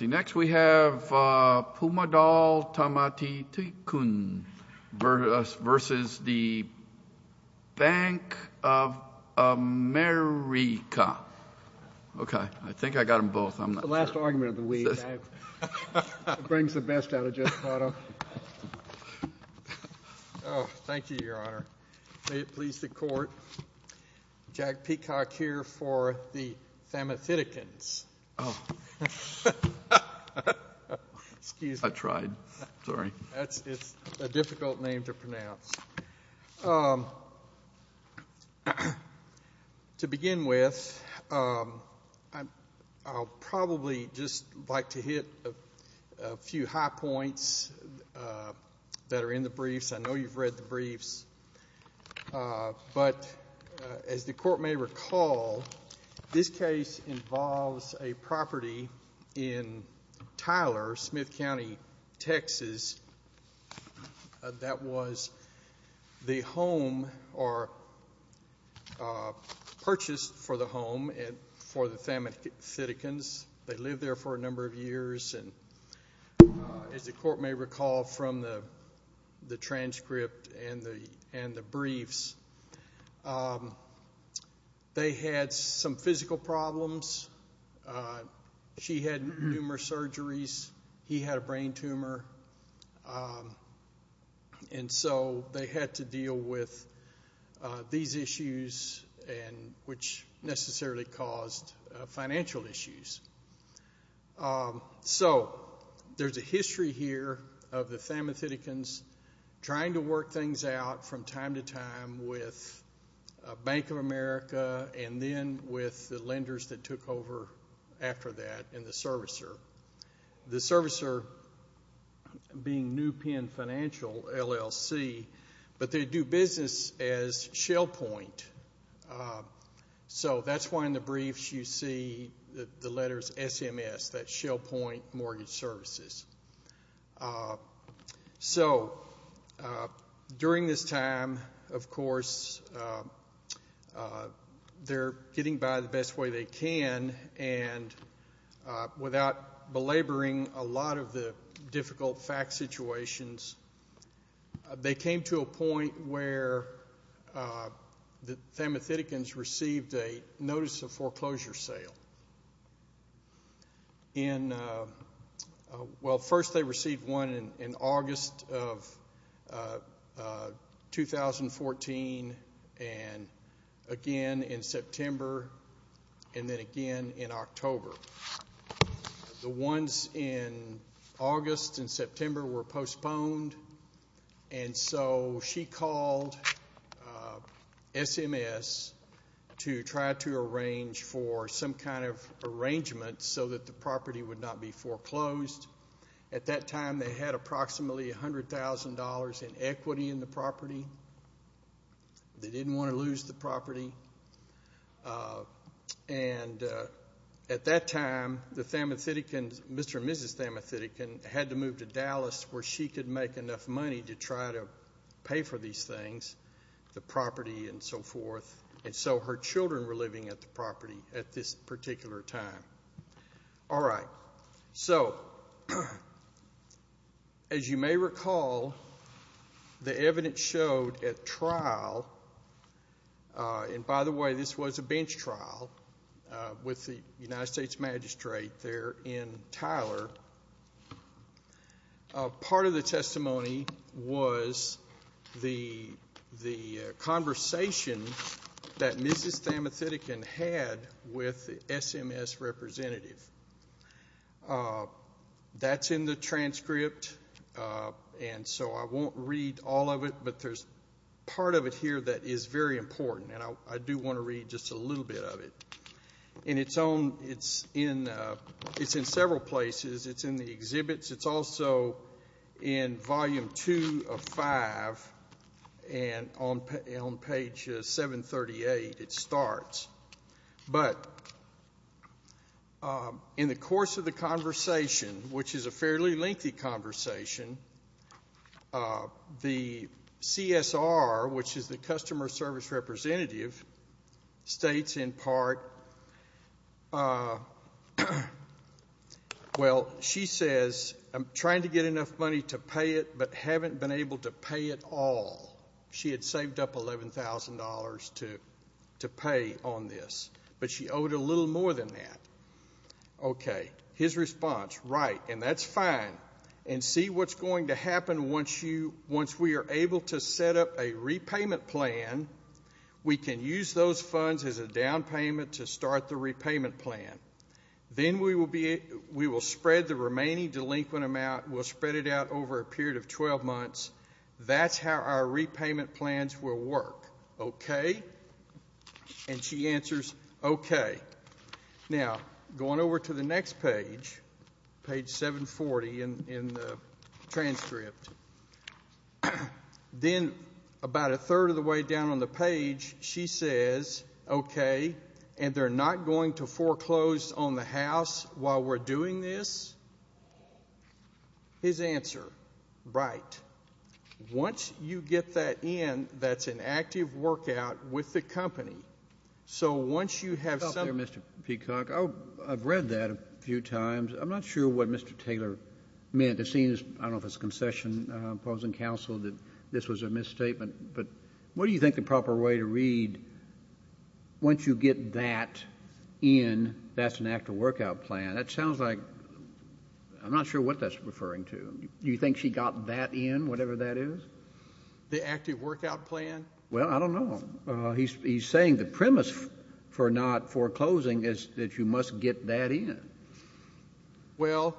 Next, we have Pumadol Tamati. Pumadol Tamati versus the Bank of America. Okay, I think I got them both. It's the last argument of the week. It brings the best out of Jeff Pato. Oh, thank you, Your Honor. May it please the court, Jack Peacock here for the Thamathitikans. Oh. Excuse me. I tried. Sorry. It's a difficult name to pronounce. To begin with, I'll probably just like to hit a few high points that are in the briefs. I know you've read the briefs. But as the court may recall, this case involves a property in Tyler, Smith County, Texas, that was the home or purchased for the home for the Thamathitikans. They lived there for a number of years. As the court may recall from the transcript and the briefs, they had some physical problems. She had numerous surgeries. He had a brain tumor. And so they had to deal with these issues, which necessarily caused financial issues. So there's a history here of the Thamathitikans trying to work things out from time to time with Bank of America and then with the lenders that took over after that and the servicer. The servicer being New Penn Financial, LLC, but they do business as Shell Point. So that's why in the briefs you see the letters SMS, that's Shell Point Mortgage Services. So during this time, of course, they're getting by the best way they can. And without belaboring a lot of the difficult fact situations, they came to a point where the Thamathitikans received a notice of foreclosure sale. Well, first they received one in August of 2014 and again in September and then again in October. The ones in August and September were postponed, and so she called SMS to try to arrange for some kind of arrangement so that the property would not be foreclosed. At that time they had approximately $100,000 in equity in the property. They didn't want to lose the property. And at that time the Thamathitikans, Mr. and Mrs. Thamathitikans, had to move to Dallas where she could make enough money to try to pay for these things, the property and so forth. And so her children were living at the property at this particular time. All right. So as you may recall, the evidence showed at trial, and by the way, this was a bench trial with the United States magistrate there in Tyler. Part of the testimony was the conversation that Mrs. Thamathitikans had with the SMS representative. That's in the transcript, and so I won't read all of it, but there's part of it here that is very important, and I do want to read just a little bit of it. In its own, it's in several places. It's in the exhibits. It's also in Volume 2 of 5, and on page 738 it starts. But in the course of the conversation, which is a fairly lengthy conversation, the CSR, which is the customer service representative, states in part, well, she says, I'm trying to get enough money to pay it but haven't been able to pay it all. She had saved up $11,000 to pay on this, but she owed a little more than that. Okay. His response, right, and that's fine, and see what's going to happen once we are able to set up a repayment plan. We can use those funds as a down payment to start the repayment plan. Then we will spread the remaining delinquent amount. We'll spread it out over a period of 12 months. That's how our repayment plans will work. Okay? And she answers, okay. Now, going over to the next page, page 740 in the transcript, then about a third of the way down on the page she says, okay, and they're not going to foreclose on the house while we're doing this? His answer, right. Once you get that in, that's an active workout with the company. So once you have some ---- Mr. Peacock, I've read that a few times. I'm not sure what Mr. Taylor meant. It seems, I don't know if it's concession, opposing counsel, that this was a misstatement, but what do you think the proper way to read once you get that in, that's an active workout plan? That sounds like, I'm not sure what that's referring to. Do you think she got that in, whatever that is? The active workout plan? Well, I don't know. He's saying the premise for not foreclosing is that you must get that in. Well,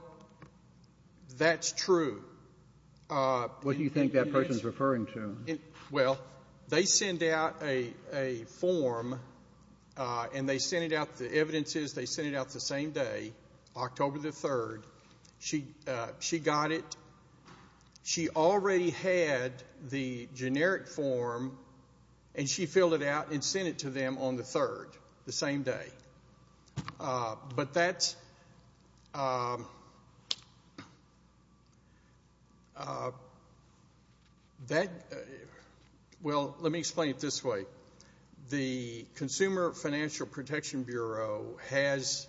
that's true. What do you think that person is referring to? Well, they send out a form, and they send it out, the evidence is they send it out the same day, October the 3rd. She got it. She already had the generic form, and she filled it out and sent it to them on the 3rd, the same day. But that's, well, let me explain it this way. The Consumer Financial Protection Bureau has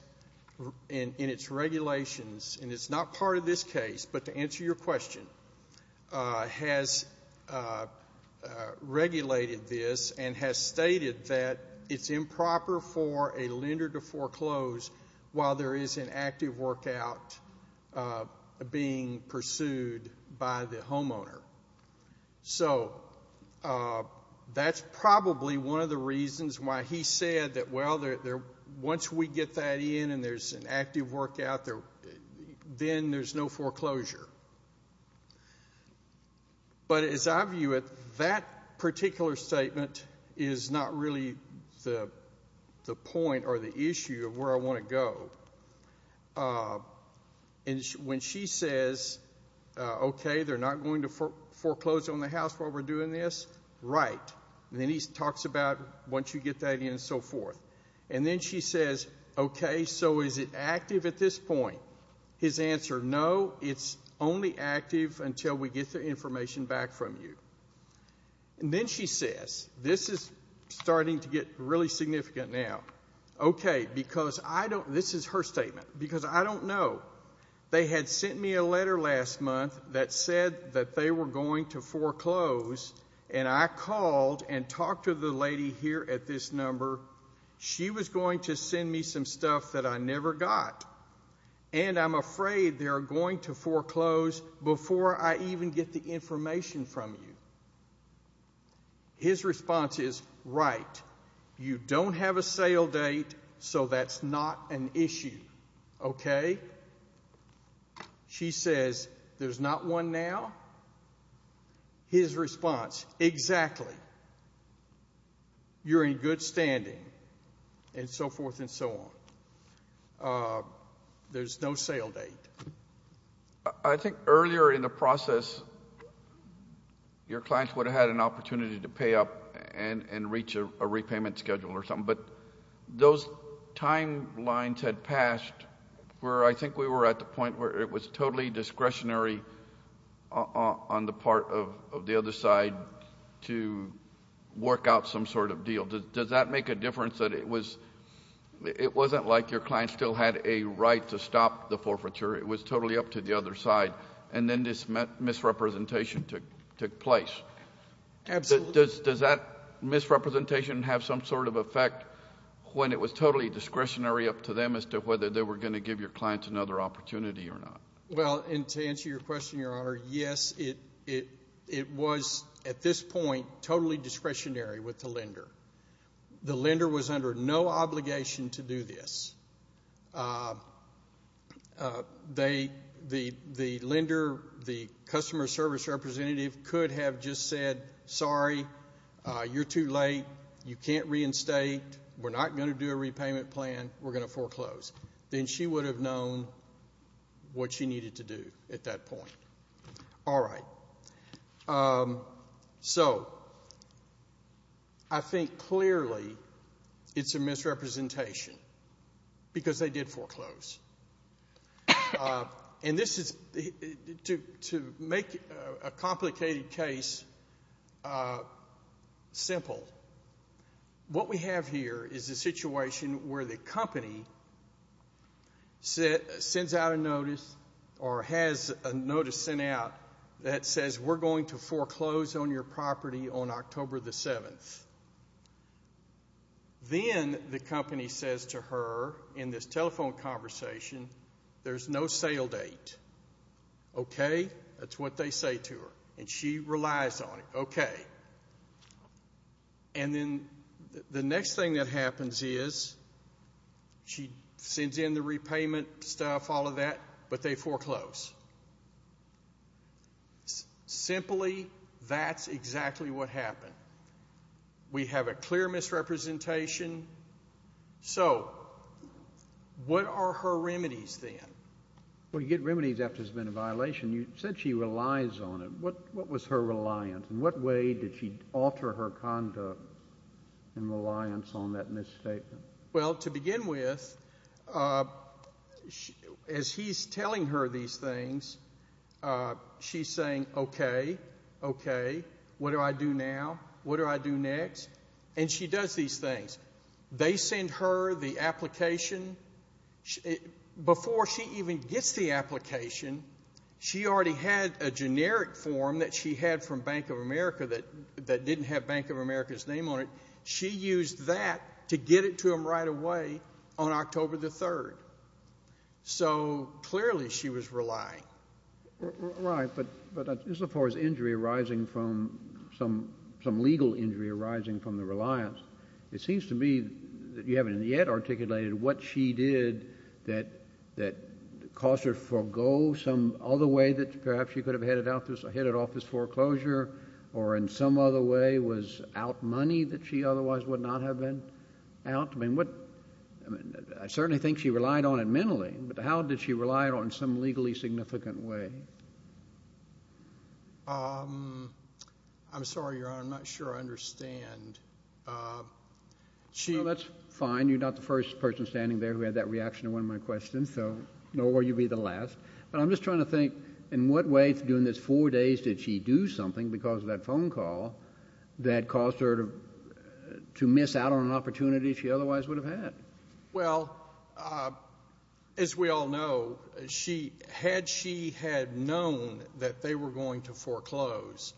in its regulations, and it's not part of this case, but to answer your question, has regulated this and has stated that it's improper for a lender to foreclose while there is an active workout being pursued by the homeowner. So that's probably one of the reasons why he said that, well, once we get that in and there's an active workout, then there's no foreclosure. But as I view it, that particular statement is not really the point or the issue of where I want to go. When she says, okay, they're not going to foreclose on the house while we're doing this, right, and then he talks about once you get that in and so forth. And then she says, okay, so is it active at this point? His answer, no, it's only active until we get the information back from you. And then she says, this is starting to get really significant now. Okay, because I don't, this is her statement, because I don't know. They had sent me a letter last month that said that they were going to foreclose, and I called and talked to the lady here at this number. She was going to send me some stuff that I never got, and I'm afraid they're going to foreclose before I even get the information from you. His response is, right, you don't have a sale date, so that's not an issue, okay? She says, there's not one now? His response, exactly. You're in good standing, and so forth and so on. There's no sale date. I think earlier in the process your clients would have had an opportunity to pay up and reach a repayment schedule or something, but those timelines had passed where I think we were at the point where it was totally discretionary on the part of the other side to work out some sort of deal. Does that make a difference that it wasn't like your client still had a right to stop the forfeiture? It was totally up to the other side, and then this misrepresentation took place. Absolutely. Does that misrepresentation have some sort of effect when it was totally discretionary up to them as to whether they were going to give your clients another opportunity or not? Well, and to answer your question, Your Honor, yes, it was at this point totally discretionary with the lender. The lender was under no obligation to do this. The lender, the customer service representative, could have just said, sorry, you're too late, you can't reinstate, we're not going to do a repayment plan, we're going to foreclose. Then she would have known what she needed to do at that point. All right. So I think clearly it's a misrepresentation because they did foreclose. And this is to make a complicated case simple. What we have here is a situation where the company sends out a notice or has a notice sent out that says we're going to foreclose on your property on October the 7th. Then the company says to her in this telephone conversation, there's no sale date. Okay? That's what they say to her. And she relies on it. Okay. And then the next thing that happens is she sends in the repayment stuff, all of that, but they foreclose. Simply, that's exactly what happened. We have a clear misrepresentation. So what are her remedies then? Well, you get remedies after there's been a violation. You said she relies on it. What was her reliance, and what way did she alter her conduct in reliance on that misstatement? Well, to begin with, as he's telling her these things, she's saying, okay, okay, what do I do now? What do I do next? And she does these things. They send her the application. Before she even gets the application, she already had a generic form that she had from Bank of America that didn't have Bank of America's name on it. She used that to get it to him right away on October the 3rd. So clearly she was relying. Right, but as far as injury arising from some legal injury arising from the reliance, it seems to me that you haven't yet articulated what she did that caused her to forego some other way that perhaps she could have headed off this foreclosure or in some other way was out money that she otherwise would not have been out. I mean, I certainly think she relied on it mentally, but how did she rely on it in some legally significant way? I'm sorry, Your Honor. I'm not sure I understand. That's fine. You're not the first person standing there who had that reaction to one of my questions, so nor will you be the last. But I'm just trying to think in what way during those four days did she do something because of that phone call that caused her to miss out on an opportunity she otherwise would have had? Well, as we all know, had she had known that they were going to foreclose,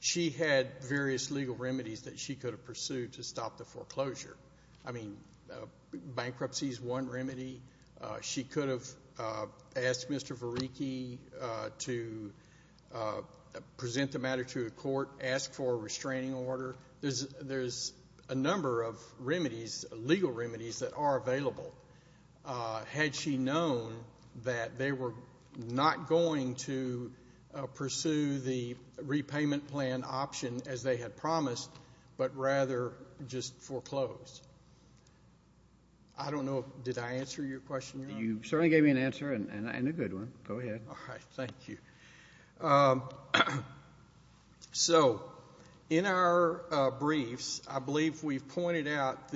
she had various legal remedies that she could have pursued to stop the foreclosure. I mean, bankruptcy is one remedy. She could have asked Mr. Varicki to present the matter to a court, asked for a restraining order. There's a number of remedies, legal remedies, that are available. Had she known that they were not going to pursue the repayment plan option as they had promised, but rather just foreclosed? I don't know. Did I answer your question, Your Honor? You certainly gave me an answer and a good one. Go ahead. All right. Thank you. So in our briefs, I believe we've pointed out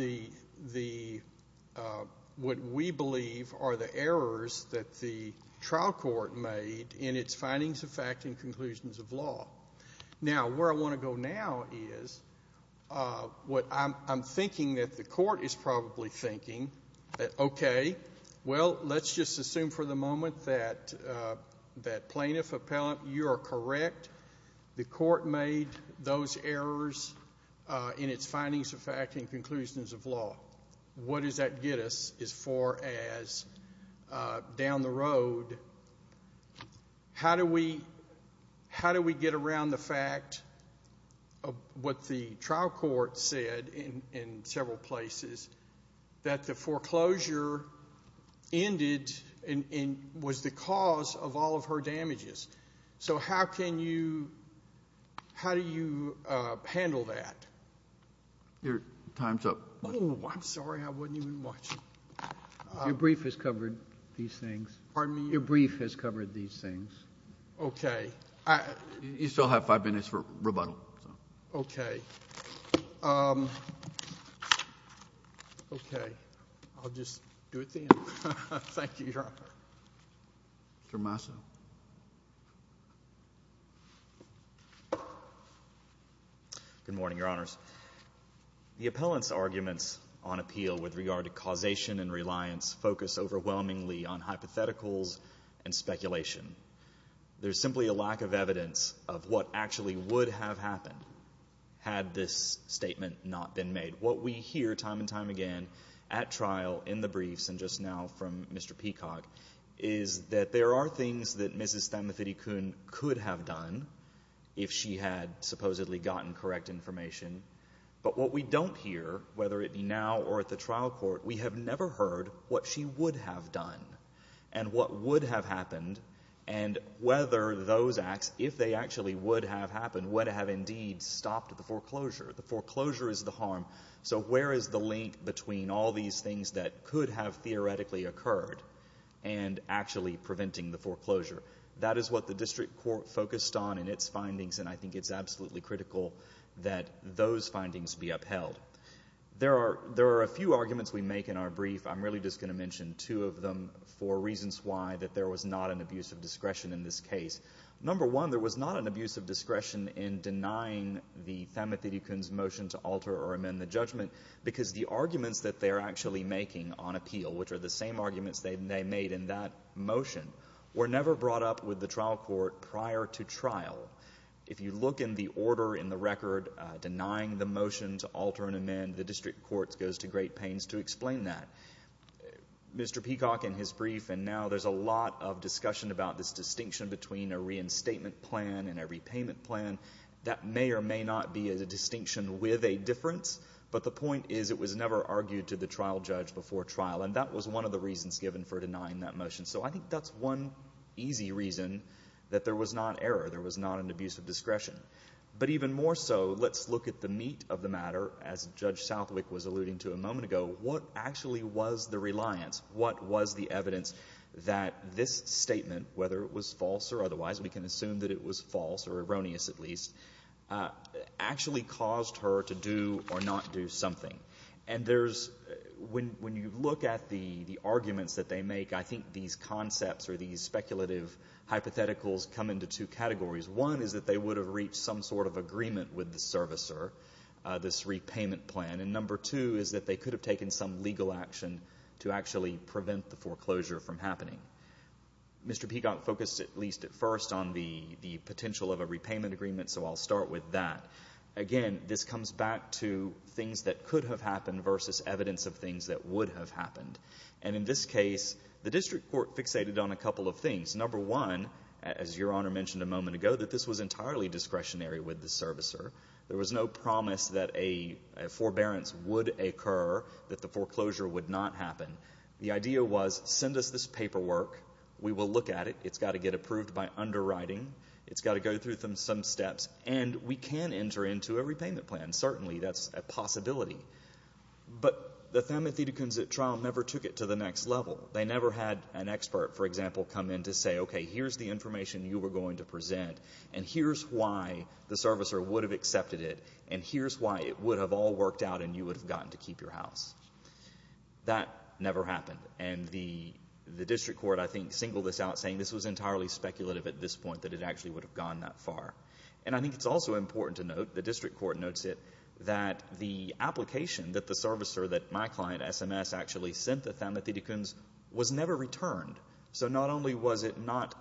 what we believe are the errors that the trial court made in its findings of fact and conclusions of law. Now, where I want to go now is I'm thinking that the court is probably thinking, okay, well, let's just assume for the moment that plaintiff, appellant, you are correct. The court made those errors in its findings of fact and conclusions of law. What does that get us as far as down the road? How do we get around the fact of what the trial court said in several places, that the foreclosure ended and was the cause of all of her damages? So how do you handle that? Your time's up. Oh, I'm sorry. I wasn't even watching. Your brief has covered these things. Pardon me? Your brief has covered these things. Okay. You still have five minutes for rebuttal. Okay. Okay. I'll just do it then. Thank you, Your Honor. Mr. Massa. Good morning, Your Honors. The appellant's arguments on appeal with regard to causation and reliance focus overwhelmingly on hypotheticals and speculation. There's simply a lack of evidence of what actually would have happened had this statement not been made. What we hear time and time again at trial in the briefs and just now from Mr. Peacock is that there are things that Mrs. Thamathirikun could have done if she had supposedly gotten correct information. But what we don't hear, whether it be now or at the trial court, we have never heard what she would have done and what would have happened and whether those acts, if they actually would have happened, would have indeed stopped the foreclosure. The foreclosure is the harm. So where is the link between all these things that could have theoretically occurred and actually preventing the foreclosure? That is what the district court focused on in its findings, and I think it's absolutely critical that those findings be upheld. There are a few arguments we make in our brief. I'm really just going to mention two of them for reasons why that there was not an abuse of discretion in this case. Number one, there was not an abuse of discretion in denying the Thamathirikun's motion to alter or amend the judgment because the arguments that they're actually making on appeal, which are the same arguments they made in that motion, were never brought up with the trial court prior to trial. If you look in the order, in the record, denying the motion to alter and amend, the district court goes to great pains to explain that. Mr. Peacock, in his brief, and now there's a lot of discussion about this distinction between a reinstatement plan and a repayment plan. That may or may not be a distinction with a difference, but the point is it was never argued to the trial judge before trial, and that was one of the reasons given for denying that motion. So I think that's one easy reason that there was not error, there was not an abuse of discretion. But even more so, let's look at the meat of the matter. As Judge Southwick was alluding to a moment ago, what actually was the reliance? What was the evidence that this statement, whether it was false or otherwise, we can assume that it was false or erroneous at least, actually caused her to do or not do something? And there's, when you look at the arguments that they make, I think these concepts or these speculative hypotheticals come into two categories. One is that they would have reached some sort of agreement with the servicer, this repayment plan, and number two is that they could have taken some legal action to actually prevent the foreclosure from happening. Mr. Peacock focused at least at first on the potential of a repayment agreement, so I'll start with that. Again, this comes back to things that could have happened versus evidence of things that would have happened. And in this case, the district court fixated on a couple of things. Number one, as Your Honour mentioned a moment ago, that this was entirely discretionary with the servicer. There was no promise that a forbearance would occur, that the foreclosure would not happen. The idea was, send us this paperwork, we will look at it, it's got to get approved by underwriting, it's got to go through some steps, and we can enter into a repayment plan, certainly that's a possibility. But the Thamathitakun's trial never took it to the next level. They never had an expert, for example, come in to say, okay, here's the information you were going to present, and here's why the servicer would have accepted it, and here's why it would have all worked out and you would have gotten to keep your house. That never happened. And the district court, I think, singled this out, saying this was entirely speculative at this point, that it actually would have gone that far. And I think it's also important to note, the district court notes it, that the application that the servicer, that my client, SMS, actually sent the Thamathitakun's was never returned. So not only was it not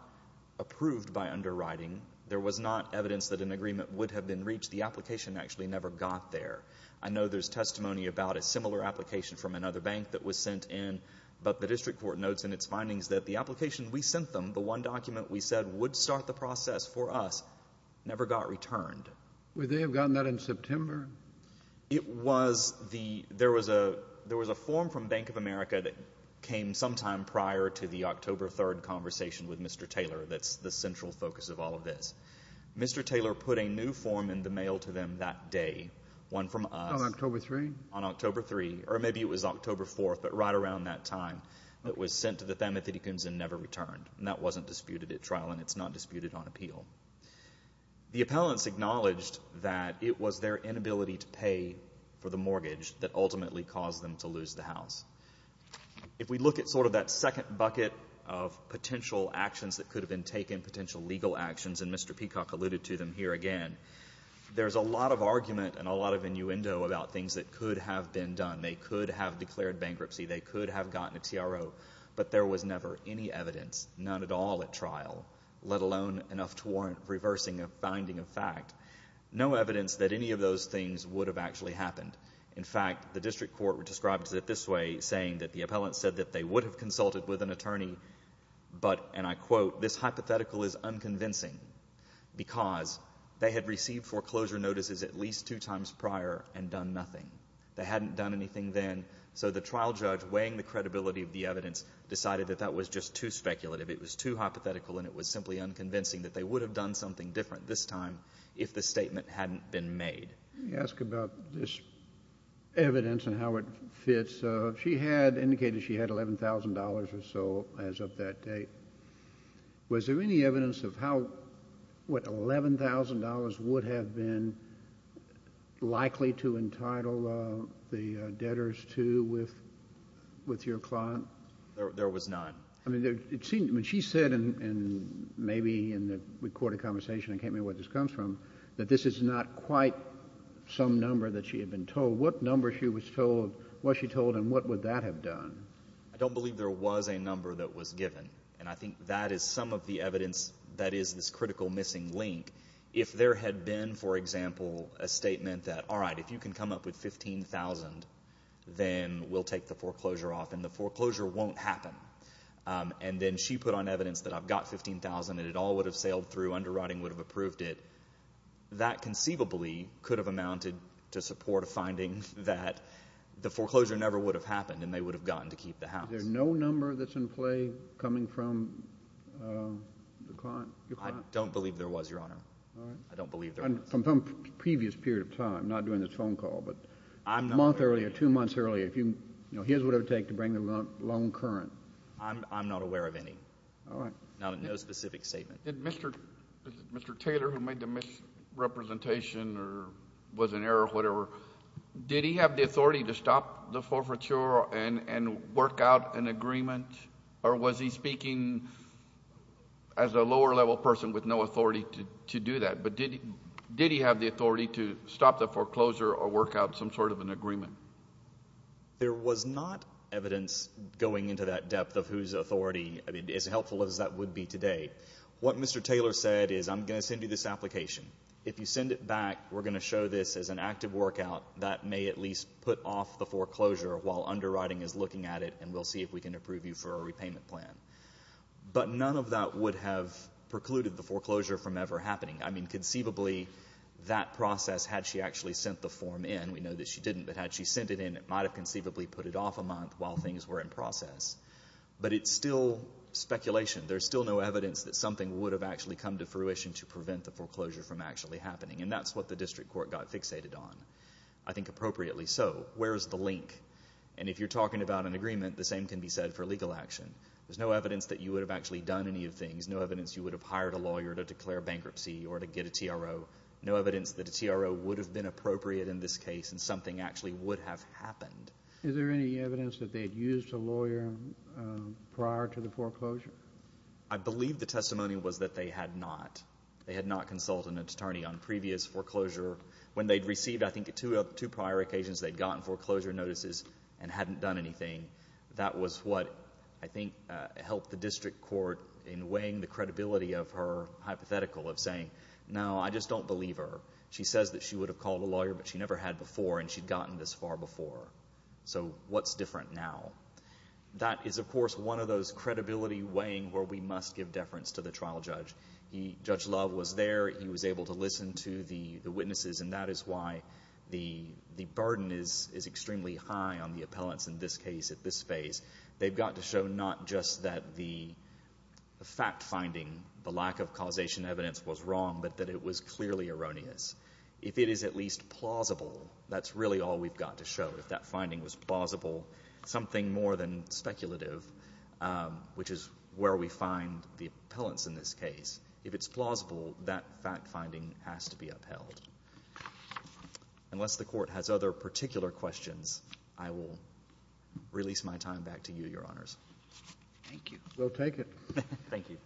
approved by underwriting, there was not evidence that an agreement would have been reached, the application actually never got there. I know there's testimony about a similar application from another bank that was sent in, but the district court notes in its findings that the application we sent them, the one document we said would start the process for us, never got returned. Would they have gotten that in September? It was the... There was a form from Bank of America that came sometime prior to the October 3rd conversation with Mr. Taylor that's the central focus of all of this. Mr. Taylor put a new form in the mail to them that day, one from us... On October 3rd? On October 3rd, or maybe it was October 4th, but right around that time. It was sent to the Thamathitakun's and never returned, and that wasn't disputed at trial and it's not disputed on appeal. The appellants acknowledged that it was their inability to pay for the mortgage that ultimately caused them to lose the house. If we look at sort of that second bucket of potential actions that could have been taken, potential legal actions, and Mr. Peacock alluded to them here again, there's a lot of argument and a lot of innuendo about things that could have been done. They could have declared bankruptcy. They could have gotten a TRO, but there was never any evidence, none at all at trial, let alone enough to warrant reversing a finding of fact. No evidence that any of those things would have actually happened. In fact, the district court described it this way, saying that the appellants said that they would have consulted with an attorney, but, and I quote, this hypothetical is unconvincing because they had received foreclosure notices at least two times prior and done nothing. They hadn't done anything then, so the trial judge, weighing the credibility of the evidence, decided that that was just too speculative. It was too hypothetical and it was simply unconvincing that they would have done something different this time if the statement hadn't been made. Let me ask about this evidence and how it fits. She had indicated she had $11,000 or so as of that date. Was there any evidence of how, what, $11,000 would have been likely to entitle the debtors to deal with your client? There was none. I mean, she said, and maybe in the recorded conversation, I can't remember where this comes from, that this is not quite some number that she had been told. What number was she told and what would that have done? I don't believe there was a number that was given, and I think that is some of the evidence that is this critical missing link. If there had been, for example, a statement that, all right, if you can come up with $15,000, then we'll take the foreclosure off and the foreclosure won't happen. And then she put on evidence that I've got $15,000 and it all would have sailed through, underwriting would have approved it. That conceivably could have amounted to support a finding that the foreclosure never would have happened and they would have gotten to keep the house. Is there no number that's in play coming from your client? I don't believe there was, Your Honor. All right. I don't believe there was. From some previous period of time, not during this phone call, but a month earlier, two months earlier, here's what it would take to bring the loan current. I'm not aware of any. All right. No specific statement. Mr. Taylor, who made the misrepresentation or was in error or whatever, did he have the authority to stop the forfeiture and work out an agreement, or was he speaking as a lower-level person with no authority to do that? But did he have the authority to stop the foreclosure or work out some sort of an agreement? There was not evidence going into that depth of whose authority, as helpful as that would be today. What Mr. Taylor said is, I'm going to send you this application. If you send it back, we're going to show this as an active workout. That may at least put off the foreclosure while underwriting is looking at it and we'll see if we can approve you for a repayment plan. But none of that would have precluded the foreclosure from ever happening. I mean, conceivably, that process, had she actually sent the form in, we know that she didn't, but had she sent it in, it might have conceivably put it off a month while things were in process. But it's still speculation. There's still no evidence that something would have actually come to fruition to prevent the foreclosure from actually happening, and that's what the district court got fixated on, I think appropriately so. Where's the link? And if you're talking about an agreement, the same can be said for legal action. There's no evidence that you would have actually done any of the things, no evidence you would have hired a lawyer to declare bankruptcy or to get a TRO, no evidence that a TRO would have been appropriate in this case and something actually would have happened. Is there any evidence that they had used a lawyer prior to the foreclosure? I believe the testimony was that they had not. They had not consulted an attorney on previous foreclosure. When they'd received, I think, two prior occasions, they'd gotten foreclosure notices and hadn't done anything. That was what I think helped the district court in weighing the credibility of her hypothetical of saying, no, I just don't believe her. She says that she would have called a lawyer, but she never had before, and she'd gotten this far before. So what's different now? That is, of course, one of those credibility weighing where we must give deference to the trial judge. Judge Love was there. He was able to listen to the witnesses, and that is why the burden is extremely high on the appellants in this case at this phase. They've got to show not just that the fact-finding, the lack of causation evidence was wrong, but that it was clearly erroneous. If it is at least plausible, that's really all we've got to show. If that finding was plausible, something more than speculative, which is where we find the appellants in this case, if it's plausible, that fact-finding has to be upheld. Unless the court has other particular questions, I will release my time back to you, Your Honors. Thank you. We'll take it. Thank you.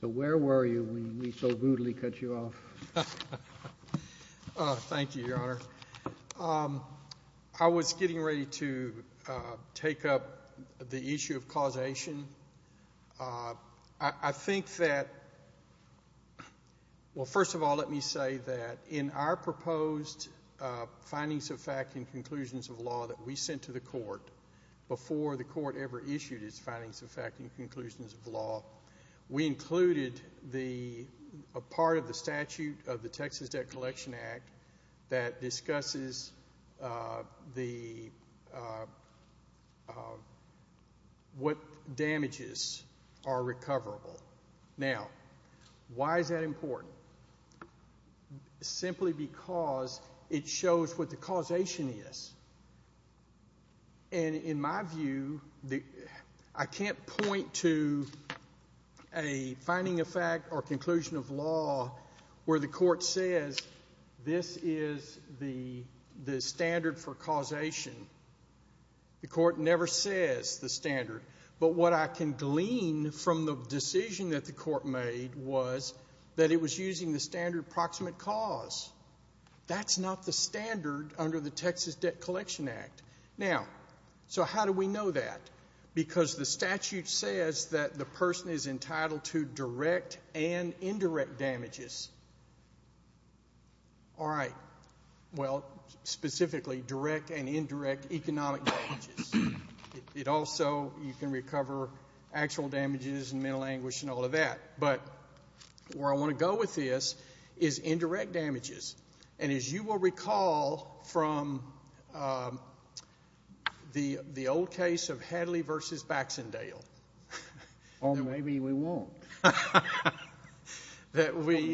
So where were you when we so goodly cut you off? Thank you, Your Honor. I was getting ready to take up the issue of causation. I think that, well, first of all, let me say that in our proposed findings of fact and conclusions of law that we sent to the court before the court ever issued its findings of fact and conclusions of law, we included a part of the statute of the Texas Debt Collection Act that discusses what damages are recoverable. Now, why is that important? Simply because it shows what the causation is. And in my view, I can't point to a finding of fact or conclusion of law where the court says this is the standard for causation. The court never says the standard. But what I can glean from the decision that the court made was that it was using the standard approximate cause. That's not the standard under the Texas Debt Collection Act. Now, so how do we know that? Because the statute says that the person is entitled to direct and indirect damages. All right. Well, specifically, direct and indirect economic damages. It also, you can recover actual damages and mental anguish and all of that. But where I want to go with this is indirect damages. And as you will recall from the old case of Hadley v. Baxendale. Or maybe we won't. From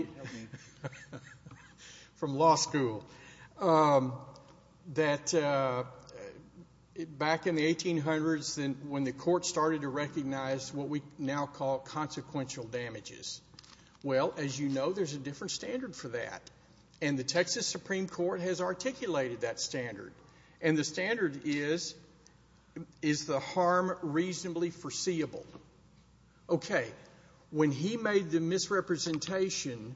law school. Back in the 1800s when the court started to recognize what we now call consequential damages. Well, as you know, there's a different standard for that. And the Texas Supreme Court has articulated that standard. And the standard is, is the harm reasonably foreseeable? Okay. When he made the misrepresentation,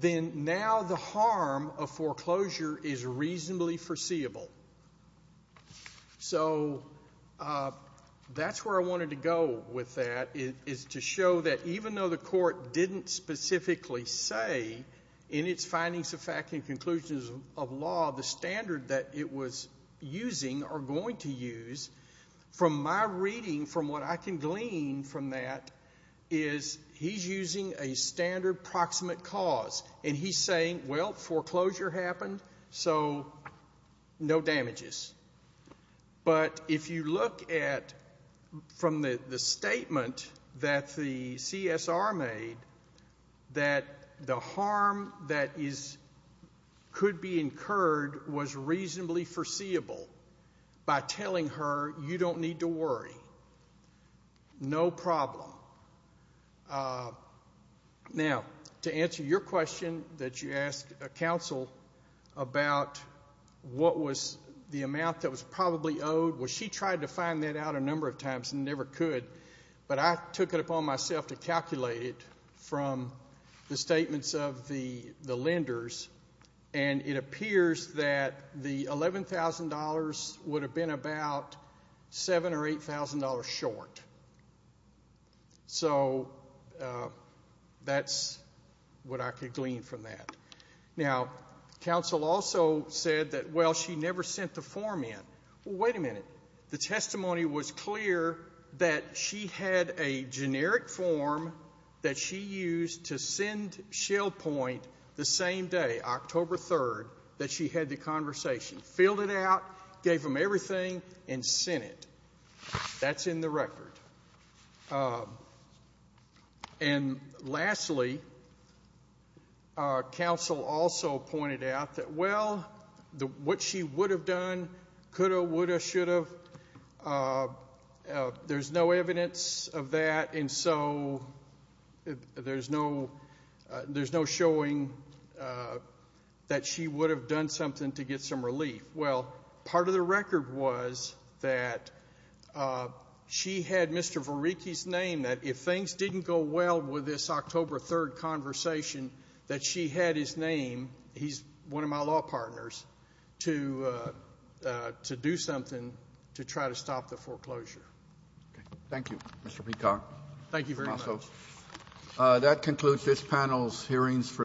then now the harm of foreclosure is reasonably foreseeable. So that's where I wanted to go with that, is to show that even though the court didn't specifically say in its findings of fact and conclusions of law the standard that it was using or going to use, from my reading, from what I can glean from that, is he's using a standard proximate cause. And he's saying, well, foreclosure happened, so no damages. But if you look at, from the statement that the CSR made, that the harm that could be incurred was reasonably foreseeable by telling her, you don't need to worry. No problem. Now, to answer your question that you asked a counsel about what was the amount that was probably owed, well, she tried to find that out a number of times and never could. But I took it upon myself to calculate it from the statements of the lenders, and it appears that the $11,000 would have been about $7,000 or $8,000 short. So that's what I could glean from that. Now, counsel also said that, well, she never sent the form in. Well, wait a minute. The testimony was clear that she had a generic form that she used to send Shell Point the same day, October 3rd, that she had the conversation, filled it out, gave them everything, and sent it. That's in the record. And lastly, counsel also pointed out that, well, what she would have done, could have, would have, should have, there's no evidence of that, and so there's no showing that she would have done something to get some relief. Well, part of the record was that she had Mr. Varicki's name, that if things didn't go well with this October 3rd conversation, that she had his name, he's one of my law partners, to do something to try to stop the foreclosure. Okay. Thank you, Mr. Picard. Thank you very much. That concludes this panel's hearings.